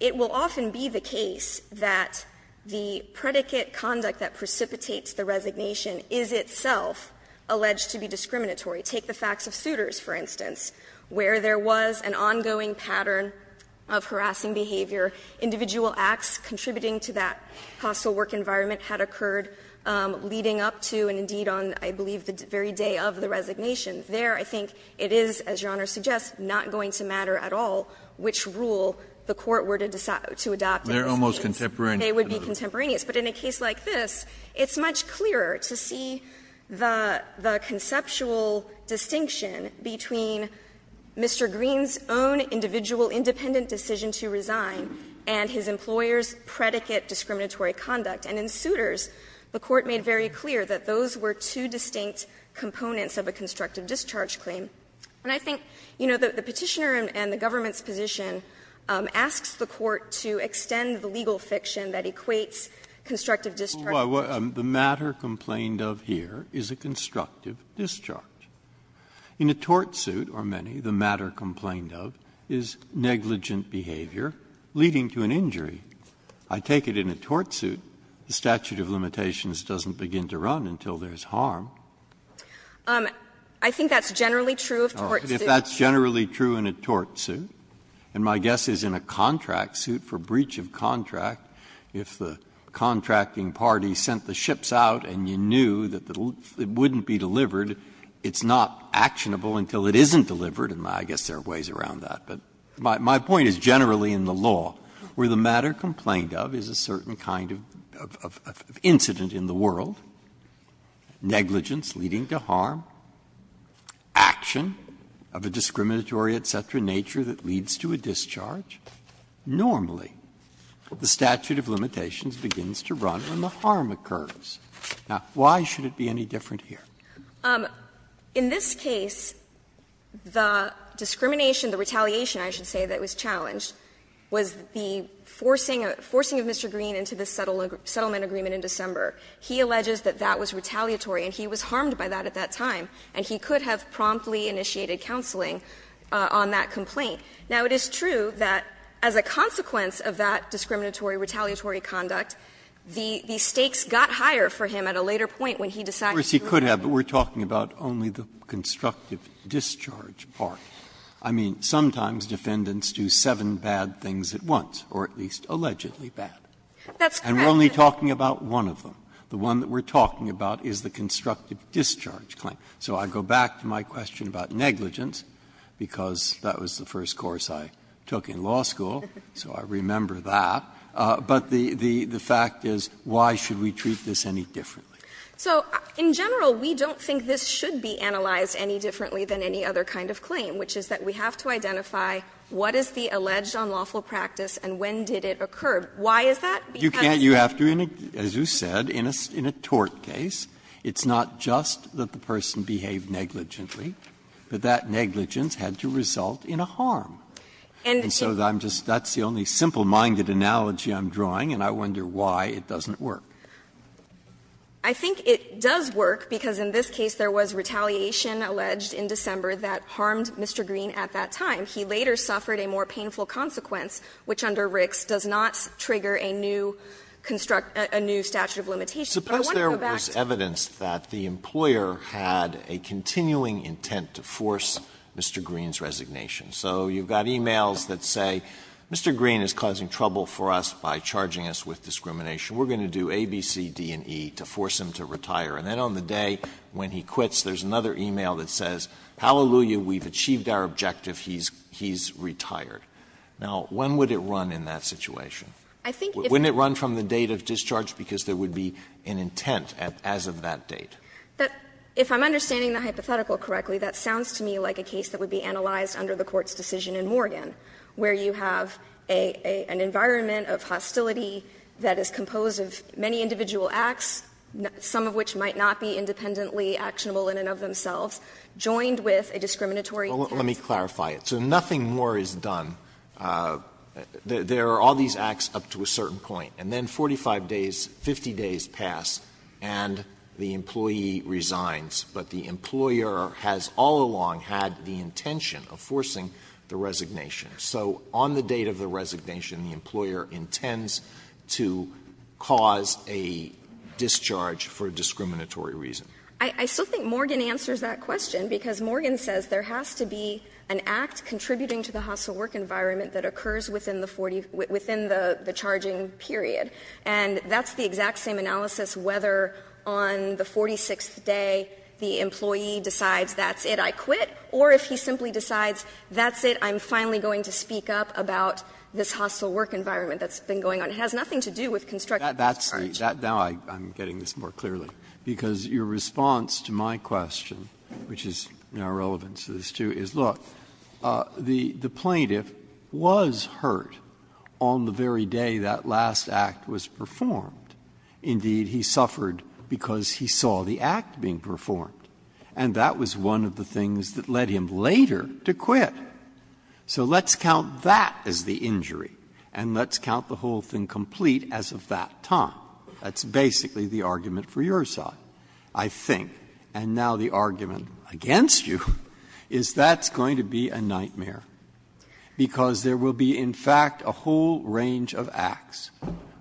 it will often be the case that the predicate conduct that precipitates the resignation is itself alleged to be discriminatory. Take the facts of Souters, for instance, where there was an ongoing pattern of harassing behavior, individual acts contributing to that hostile work environment had occurred leading up to, and indeed on, I believe, the very day of the resignation. There, I think, it is, as Your Honor suggests, not going to matter at all which rule the court were to decide to adopt. They're almost contemporaneous. They would be contemporaneous. But in a case like this, it's much clearer to see the conceptual distinction between Mr. Green's own individual independent decision to resign and his employer's predicate discriminatory conduct. And in Souters, the court made very clear that those were two distinct components of a constructive discharge claim. And I think, you know, the Petitioner and the government's position asks the court to extend the legal fiction that equates constructive discharge. Breyer The matter complained of here is a constructive discharge. In a tort suit, or many, the matter complained of is negligent behavior leading to an injury. I take it in a tort suit, the statute of limitations doesn't begin to run until there's harm. I think that's generally true of tort suits. That's generally true in a tort suit, and my guess is in a contract suit, for breach of contract, if the contracting party sent the ships out and you knew that it wouldn't be delivered, it's not actionable until it isn't delivered, and I guess there are ways around that. But my point is generally in the law, where the matter complained of is a certain kind of incident in the world, negligence leading to harm, action of injury, and the sort of discriminatory, et cetera, nature that leads to a discharge, normally the statute of limitations begins to run when the harm occurs. Now, why should it be any different here? Anderson In this case, the discrimination, the retaliation, I should say, that was challenged was the forcing of Mr. Green into the settlement agreement in December. He alleges that that was retaliatory, and he was harmed by that at that time, and he could have promptly initiated counseling on that complaint. Now, it is true that as a consequence of that discriminatory, retaliatory conduct, the stakes got higher for him at a later point when he decided to do it. Breyer Of course, he could have, but we're talking about only the constructive discharge part. I mean, sometimes defendants do seven bad things at once, or at least allegedly bad. Anderson That's correct. Breyer And we're only talking about one of them. The one that we're talking about is the constructive discharge claim. So I go back to my question about negligence, because that was the first course I took in law school, so I remember that. But the fact is, why should we treat this any differently? Anderson So in general, we don't think this should be analyzed any differently than any other kind of claim, which is that we have to identify what is the alleged unlawful practice and when did it occur. Why is that? Because Breyer You can't. As you said, in a tort case, it's not just that the person behaved negligently, but that negligence had to result in a harm. And so I'm just the only simple-minded analogy I'm drawing, and I wonder why it doesn't work. Anderson I think it does work, because in this case there was retaliation alleged in December that harmed Mr. Green at that time. He later suffered a more painful consequence, which under Ricks does not trigger a new statute of limitations. But I want to go back to Alito Suppose there was evidence that the employer had a continuing intent to force Mr. Green's resignation. So you've got e-mails that say, Mr. Green is causing trouble for us by charging us with discrimination. We're going to do A, B, C, D, and E to force him to retire. And then on the day when he quits, there's another e-mail that says, hallelujah, we've achieved our objective, he's retired. Now, when would it run in that situation? Wouldn't it run from the date of discharge, because there would be an intent as of that date? Anderson If I'm understanding the hypothetical correctly, that sounds to me like a case that would be analyzed under the Court's decision in Morgan, where you have an environment of hostility that is composed of many individual acts, some of which might not be independently actionable in and of themselves, joined with a discriminatory intent. Alito Well, let me clarify it. So nothing more is done. There are all these acts up to a certain point, and then 45 days, 50 days pass, and the employee resigns. But the employer has all along had the intention of forcing the resignation. So on the date of the resignation, the employer intends to cause a discharge for a discriminatory reason. Anderson I still think Morgan answers that question, because Morgan says there has to be an environment that occurs within the 40 — within the charging period. And that's the exact same analysis whether on the 46th day the employee decides that's it, I quit, or if he simply decides that's it, I'm finally going to speak up about this hostile work environment that's been going on. It has nothing to do with construction. Breyer That's — now I'm getting this more clearly, because your response to my question, which is in our relevance to this, too, is, look, the plaintiff was hurt on the very day that last act was performed. Indeed, he suffered because he saw the act being performed. And that was one of the things that led him later to quit. So let's count that as the injury, and let's count the whole thing complete as of that time. That's basically the argument for your side, I think. And now the argument against you is that's going to be a nightmare, because there will be, in fact, a whole range of acts,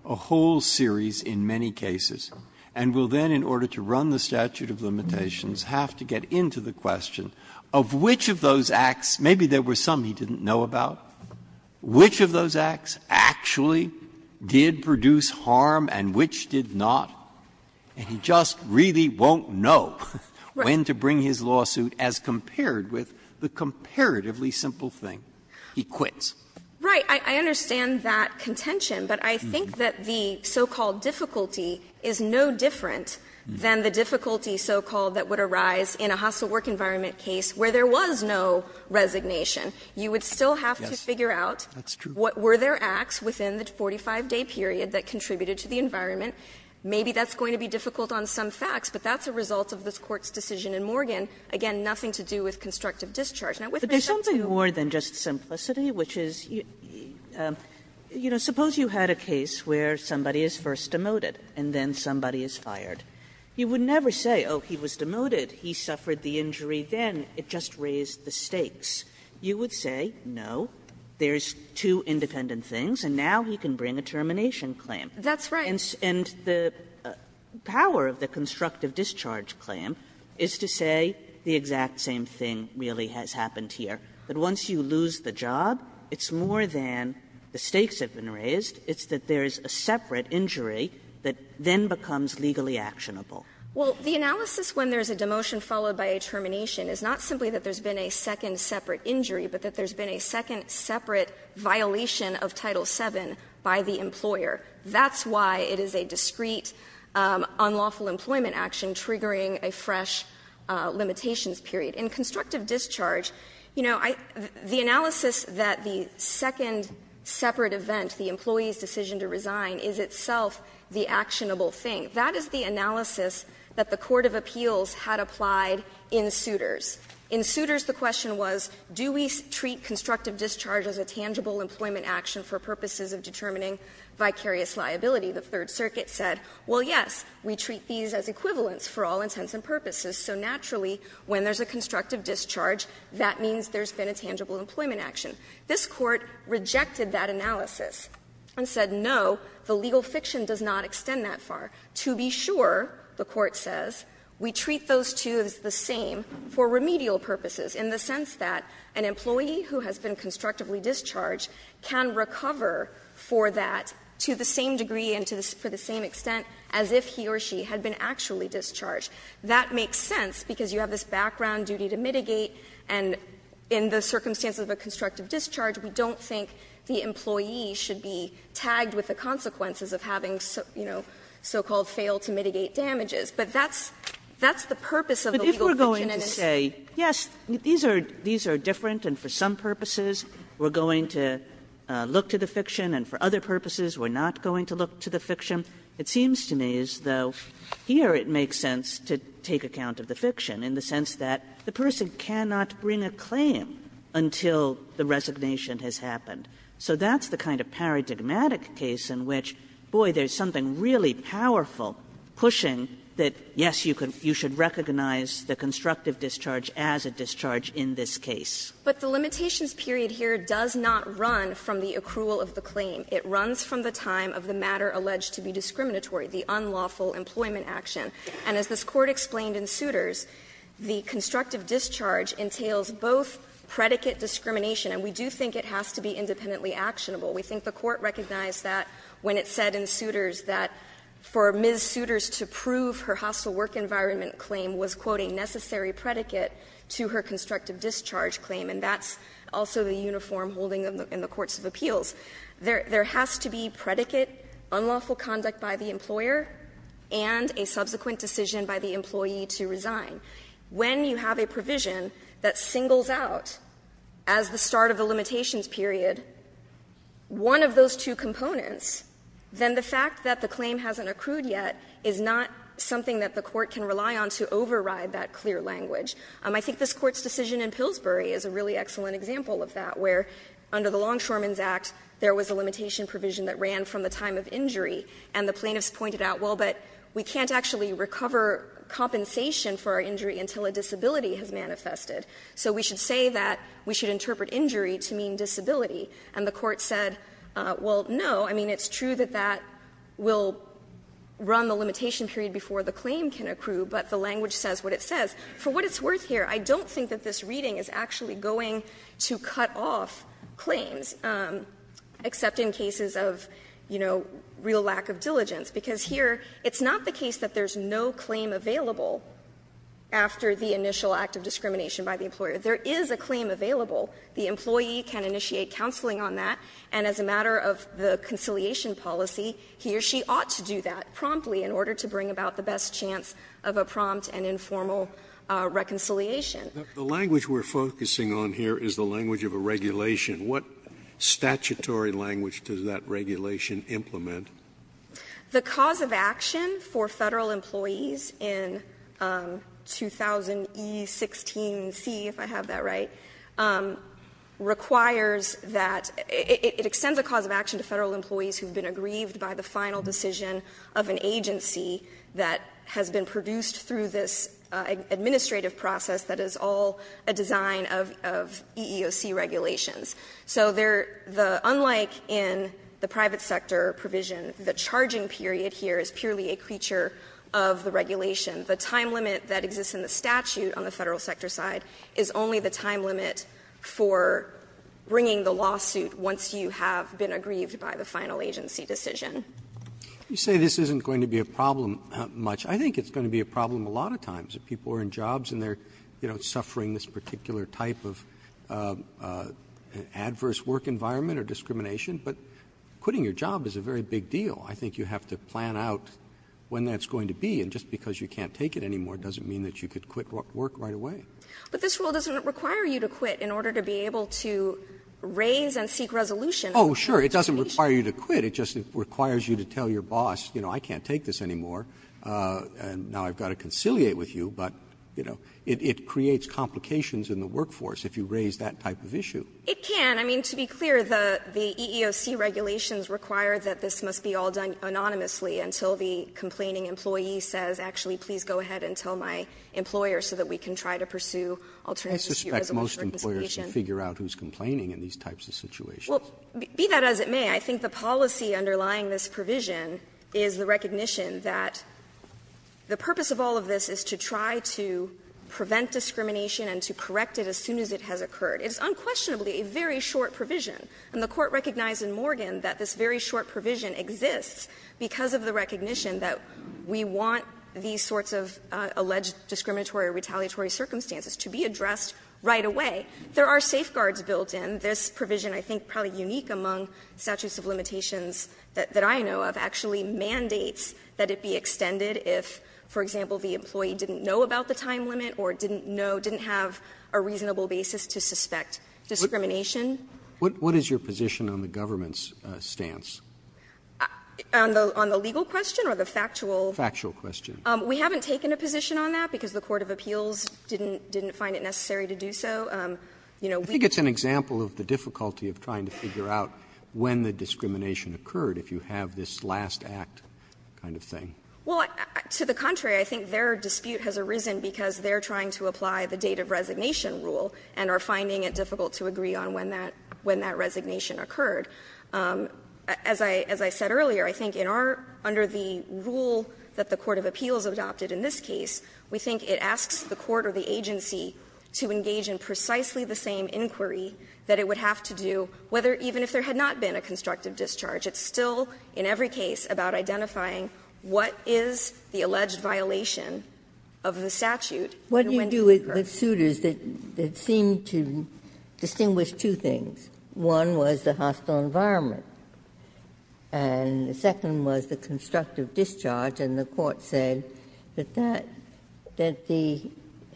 a whole series in many cases, and we'll then, in order to run the statute of limitations, have to get into the question of which of those acts — maybe there were some he didn't know about — which of those acts actually did produce harm and which did not. And he just really won't know when to bring his lawsuit as compared with the comparatively simple thing. He quits. Right. I understand that contention, but I think that the so-called difficulty is no different than the difficulty so-called that would arise in a hostile work environment case where there was no resignation. You would still have to figure out what were their acts within the 45-day period that contributed to the environment. Maybe that's going to be difficult on some facts, but that's a result of this Court's decision in Morgan. Again, nothing to do with constructive discharge. Now, with respect to the court's case, I think that's a good point. Kagan But there's something more than just simplicity, which is, you know, suppose you had a case where somebody is first demoted and then somebody is fired. You would never say, oh, he was demoted, he suffered the injury then, it just raised the stakes. You would say, no, there's two independent things, and now he can bring a termination claim. That's right. And the power of the constructive discharge claim is to say the exact same thing really has happened here, that once you lose the job, it's more than the stakes have been raised, it's that there is a separate injury that then becomes legally actionable. Well, the analysis when there's a demotion followed by a termination is not simply that there's been a second separate injury, but that there's been a second separate violation of Title VII by the employer. That's why it is a discreet, unlawful employment action triggering a fresh limitations period. In constructive discharge, you know, the analysis that the second separate event, the employee's decision to resign, is itself the actionable thing. That is the analysis that the court of appeals had applied in suitors. In suitors, the question was, do we treat constructive discharge as a tangible employment action for purposes of determining vicarious liability? The Third Circuit said, well, yes, we treat these as equivalents for all intents and purposes. So naturally, when there's a constructive discharge, that means there's been a tangible employment action. This Court rejected that analysis and said, no, the legal fiction does not extend that far. To be sure, the Court says, we treat those two as the same for remedial purposes, in the sense that an employee who has been constructively discharged can recover for that to the same degree and to the same extent as if he or she had been actually discharged. That makes sense, because you have this background duty to mitigate, and in the circumstances of a constructive discharge, we don't think the employee should be tagged with the so-called fail-to-mitigate damages, but that's the purpose of the legal fiction Kagan But if we're going to say, yes, these are different, and for some purposes we're going to look to the fiction, and for other purposes we're not going to look to the fiction, it seems to me as though here it makes sense to take account of the fiction, in the sense that the person cannot bring a claim until the resignation has happened. So that's the kind of paradigmatic case in which, boy, there's something really powerful pushing that, yes, you should recognize the constructive discharge as a discharge in this case. But the limitations period here does not run from the accrual of the claim. It runs from the time of the matter alleged to be discriminatory, the unlawful employment action. And as this Court explained in Souters, the constructive discharge entails both predicate discrimination, and we do think it has to be independently actionable. We think the Court recognized that when it said in Souters that for Ms. Souters to prove her hostile work environment claim was, quote, a necessary predicate to her constructive discharge claim, and that's also the uniform holding in the courts of appeals. There has to be predicate, unlawful conduct by the employer, and a subsequent decision by the employee to resign. When you have a provision that singles out, as the start of the limitations period, one of those two components, then the fact that the claim hasn't accrued yet is not something that the Court can rely on to override that clear language. I think this Court's decision in Pillsbury is a really excellent example of that, where under the Longshoreman's Act, there was a limitation provision that ran from the time of injury, and the plaintiffs pointed out, well, but we can't actually recover compensation for our injury until a disability has manifested. So we should say that we should interpret injury to mean disability. And the Court said, well, no, I mean, it's true that that will run the limitation period before the claim can accrue, but the language says what it says. For what it's worth here, I don't think that this reading is actually going to cut off claims, except in cases of, you know, real lack of diligence, because here it's not the case that there's no claim available after the initial act of discrimination by the employer. There is a claim available. The employee can initiate counseling on that, and as a matter of the conciliation policy, he or she ought to do that promptly in order to bring about the best chance of a prompt and informal reconciliation. Scalia. The language we're focusing on here is the language of a regulation. What statutory language does that regulation implement? The cause of action for federal employees in 2000E16C, if I have that right, requires that it extends a cause of action to federal employees who've been aggrieved by the final decision of an agency that has been produced through this administrative process that is all a design of EEOC regulations. So there, unlike in the private sector provision, the charging period here is purely a creature of the regulation. The time limit that exists in the statute on the federal sector side is only the time limit for bringing the lawsuit once you have been aggrieved by the final agency decision. Roberts. You say this isn't going to be a problem much. I think it's going to be a problem a lot of times. If people are in jobs and they're, you know, suffering this particular type of adverse work environment or discrimination, but quitting your job is a very big deal. I think you have to plan out when that's going to be, and just because you can't take it anymore doesn't mean that you could quit work right away. But this rule doesn't require you to quit in order to be able to raise and seek resolution. Oh, sure. It doesn't require you to quit. It just requires you to tell your boss, you know, I can't take this anymore, and now I've got to conciliate with you, but, you know, it creates complications in the workforce if you raise that type of issue. It can. I mean, to be clear, the EEOC regulations require that this must be all done anonymously until the complaining employee says, actually, please go ahead and tell my employer so that we can try to pursue alternatives. I suspect most employers can figure out who's complaining in these types of situations. Well, be that as it may, I think the policy underlying this provision is the recognition that the purpose of all of this is to try to prevent discrimination and to correct it as soon as it has occurred. It's unquestionably a very short provision, and the Court recognized in Morgan that this very short provision exists because of the recognition that we want these sorts of alleged discriminatory or retaliatory circumstances to be addressed right away. There are safeguards built in. This provision, I think probably unique among statutes of limitations that I know of, actually mandates that it be extended if, for example, the employee didn't know about the time limit or didn't know, didn't have a reasonable basis to suspect discrimination. What is your position on the government's stance? On the legal question or the factual? Factual question. We haven't taken a position on that because the Court of Appeals didn't find it necessary to do so. You know, we think it's an example of the difficulty of trying to figure out when the last act kind of thing. Well, to the contrary, I think their dispute has arisen because they're trying to apply the date of resignation rule and are finding it difficult to agree on when that resignation occurred. As I said earlier, I think in our under the rule that the Court of Appeals adopted in this case, we think it asks the court or the agency to engage in precisely the same inquiry that it would have to do whether even if there had not been a constructive discharge. It's still in every case about identifying what is the alleged violation of the statute and when did it occur. Ginsburg What do you do with suitors that seem to distinguish two things? One was the hostile environment, and the second was the constructive discharge. And the Court said that that, that the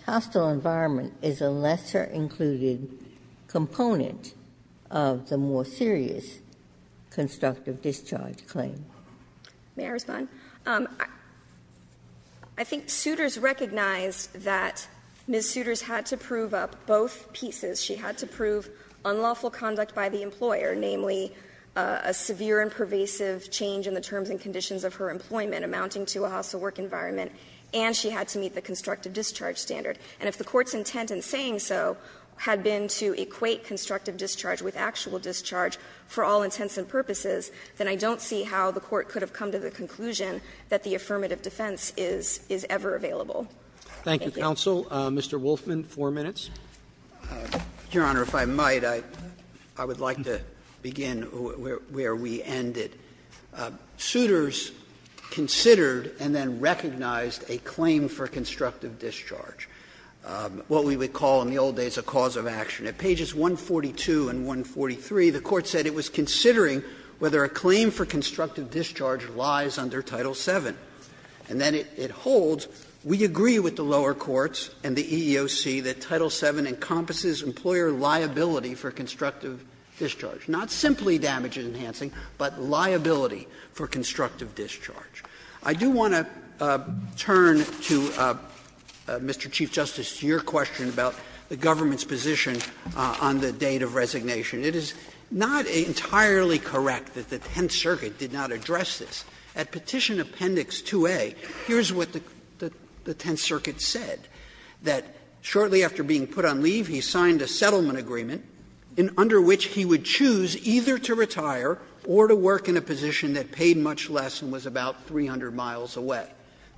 hostile environment is a lesser included component of the more serious constructive discharge claim. May I respond? I think suitors recognized that Ms. Souters had to prove up both pieces. She had to prove unlawful conduct by the employer, namely a severe and pervasive change in the terms and conditions of her employment amounting to a hostile work environment, and she had to meet the constructive discharge standard. And if the Court's intent in saying so had been to equate constructive discharge with actual discharge for all intents and purposes, then I don't see how the Court could have come to the conclusion that the affirmative defense is, is ever available. Thank you. Roberts, Mr. Wolfman, four minutes. Wolfman Your Honor, if I might, I would like to begin where we ended. Souters considered and then recognized a claim for constructive discharge. What we would call in the old days a cause of action. At pages 142 and 143, the Court said it was considering whether a claim for constructive discharge lies under Title VII. And then it holds, we agree with the lower courts and the EEOC that Title VII encompasses employer liability for constructive discharge, not simply damage enhancing, but liability for constructive discharge. I do want to turn to, Mr. Chief Justice, to your question about the government's position on the date of resignation. It is not entirely correct that the Tenth Circuit did not address this. At Petition Appendix 2A, here's what the Tenth Circuit said, that shortly after being put on leave, he signed a settlement agreement under which he would choose either to retire or to work in a position that paid much less and was about 300 miles away.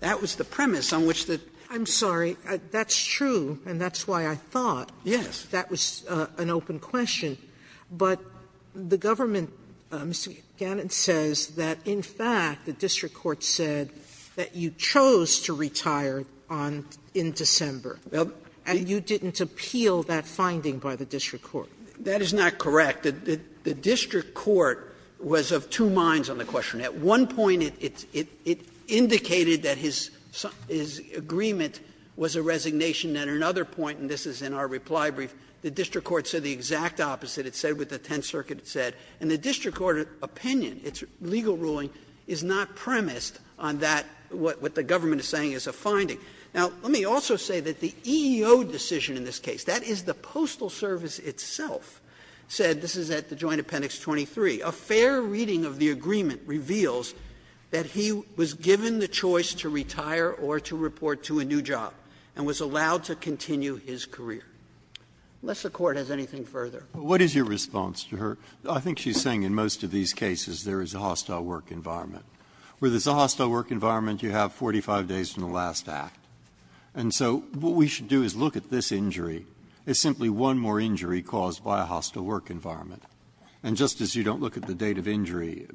That was the premise on which the Sotomayor I'm sorry, that's true, and that's why I thought that was an open question. But the government, Mr. Gannon says that in fact the district court said that you chose to retire in December. And you didn't appeal that finding by the district court. That is not correct. The district court was of two minds on the question. At one point it indicated that his agreement was a resignation. At another point, and this is in our reply brief, the district court said the exact opposite. It said what the Tenth Circuit said. And the district court opinion, its legal ruling, is not premised on that, what the government is saying is a finding. Now, let me also say that the EEO decision in this case, that is the Postal Service itself, said, this is at the Joint Appendix 23, a fair reading of the agreement reveals that he was given the choice to retire or to report to a new job and was allowed to continue his career, unless the Court has anything further. Breyer. What is your response to her? I think she's saying in most of these cases there is a hostile work environment. Where there is a hostile work environment, you have 45 days from the last act. And so what we should do is look at this injury as simply one more injury caused by a hostile work environment. And just as you don't look at the date of injury,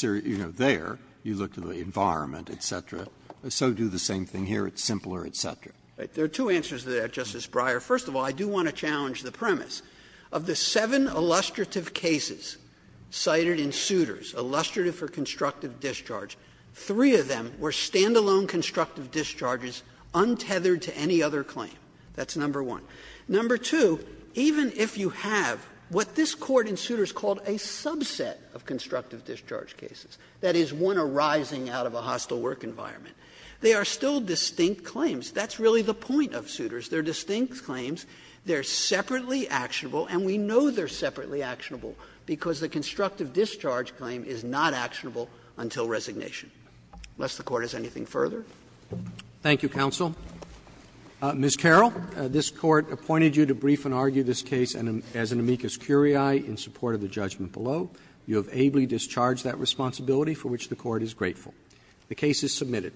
you know, there, you look at the environment, et cetera, so do the same thing here. It's simpler, et cetera. There are two answers to that, Justice Breyer. First of all, I do want to challenge the premise of the seven illustrative cases cited in Souters, illustrative for constructive discharge. Three of them were stand-alone constructive discharges untethered to any other claim. That's number one. Number two, even if you have what this Court in Souters called a subset of constructive discharge cases, that is, one arising out of a hostile work environment, they are still distinct claims. That's really the point of Souters. They're distinct claims. They're separately actionable, and we know they're separately actionable because the constructive discharge claim is not actionable until resignation. Unless the Court has anything further. Roberts. Roberts. Thank you, counsel. Ms. Carroll, this Court appointed you to brief and argue this case as an amicus curiae in support of the judgment below. You have ably discharged that responsibility, for which the Court is grateful. The case is submitted.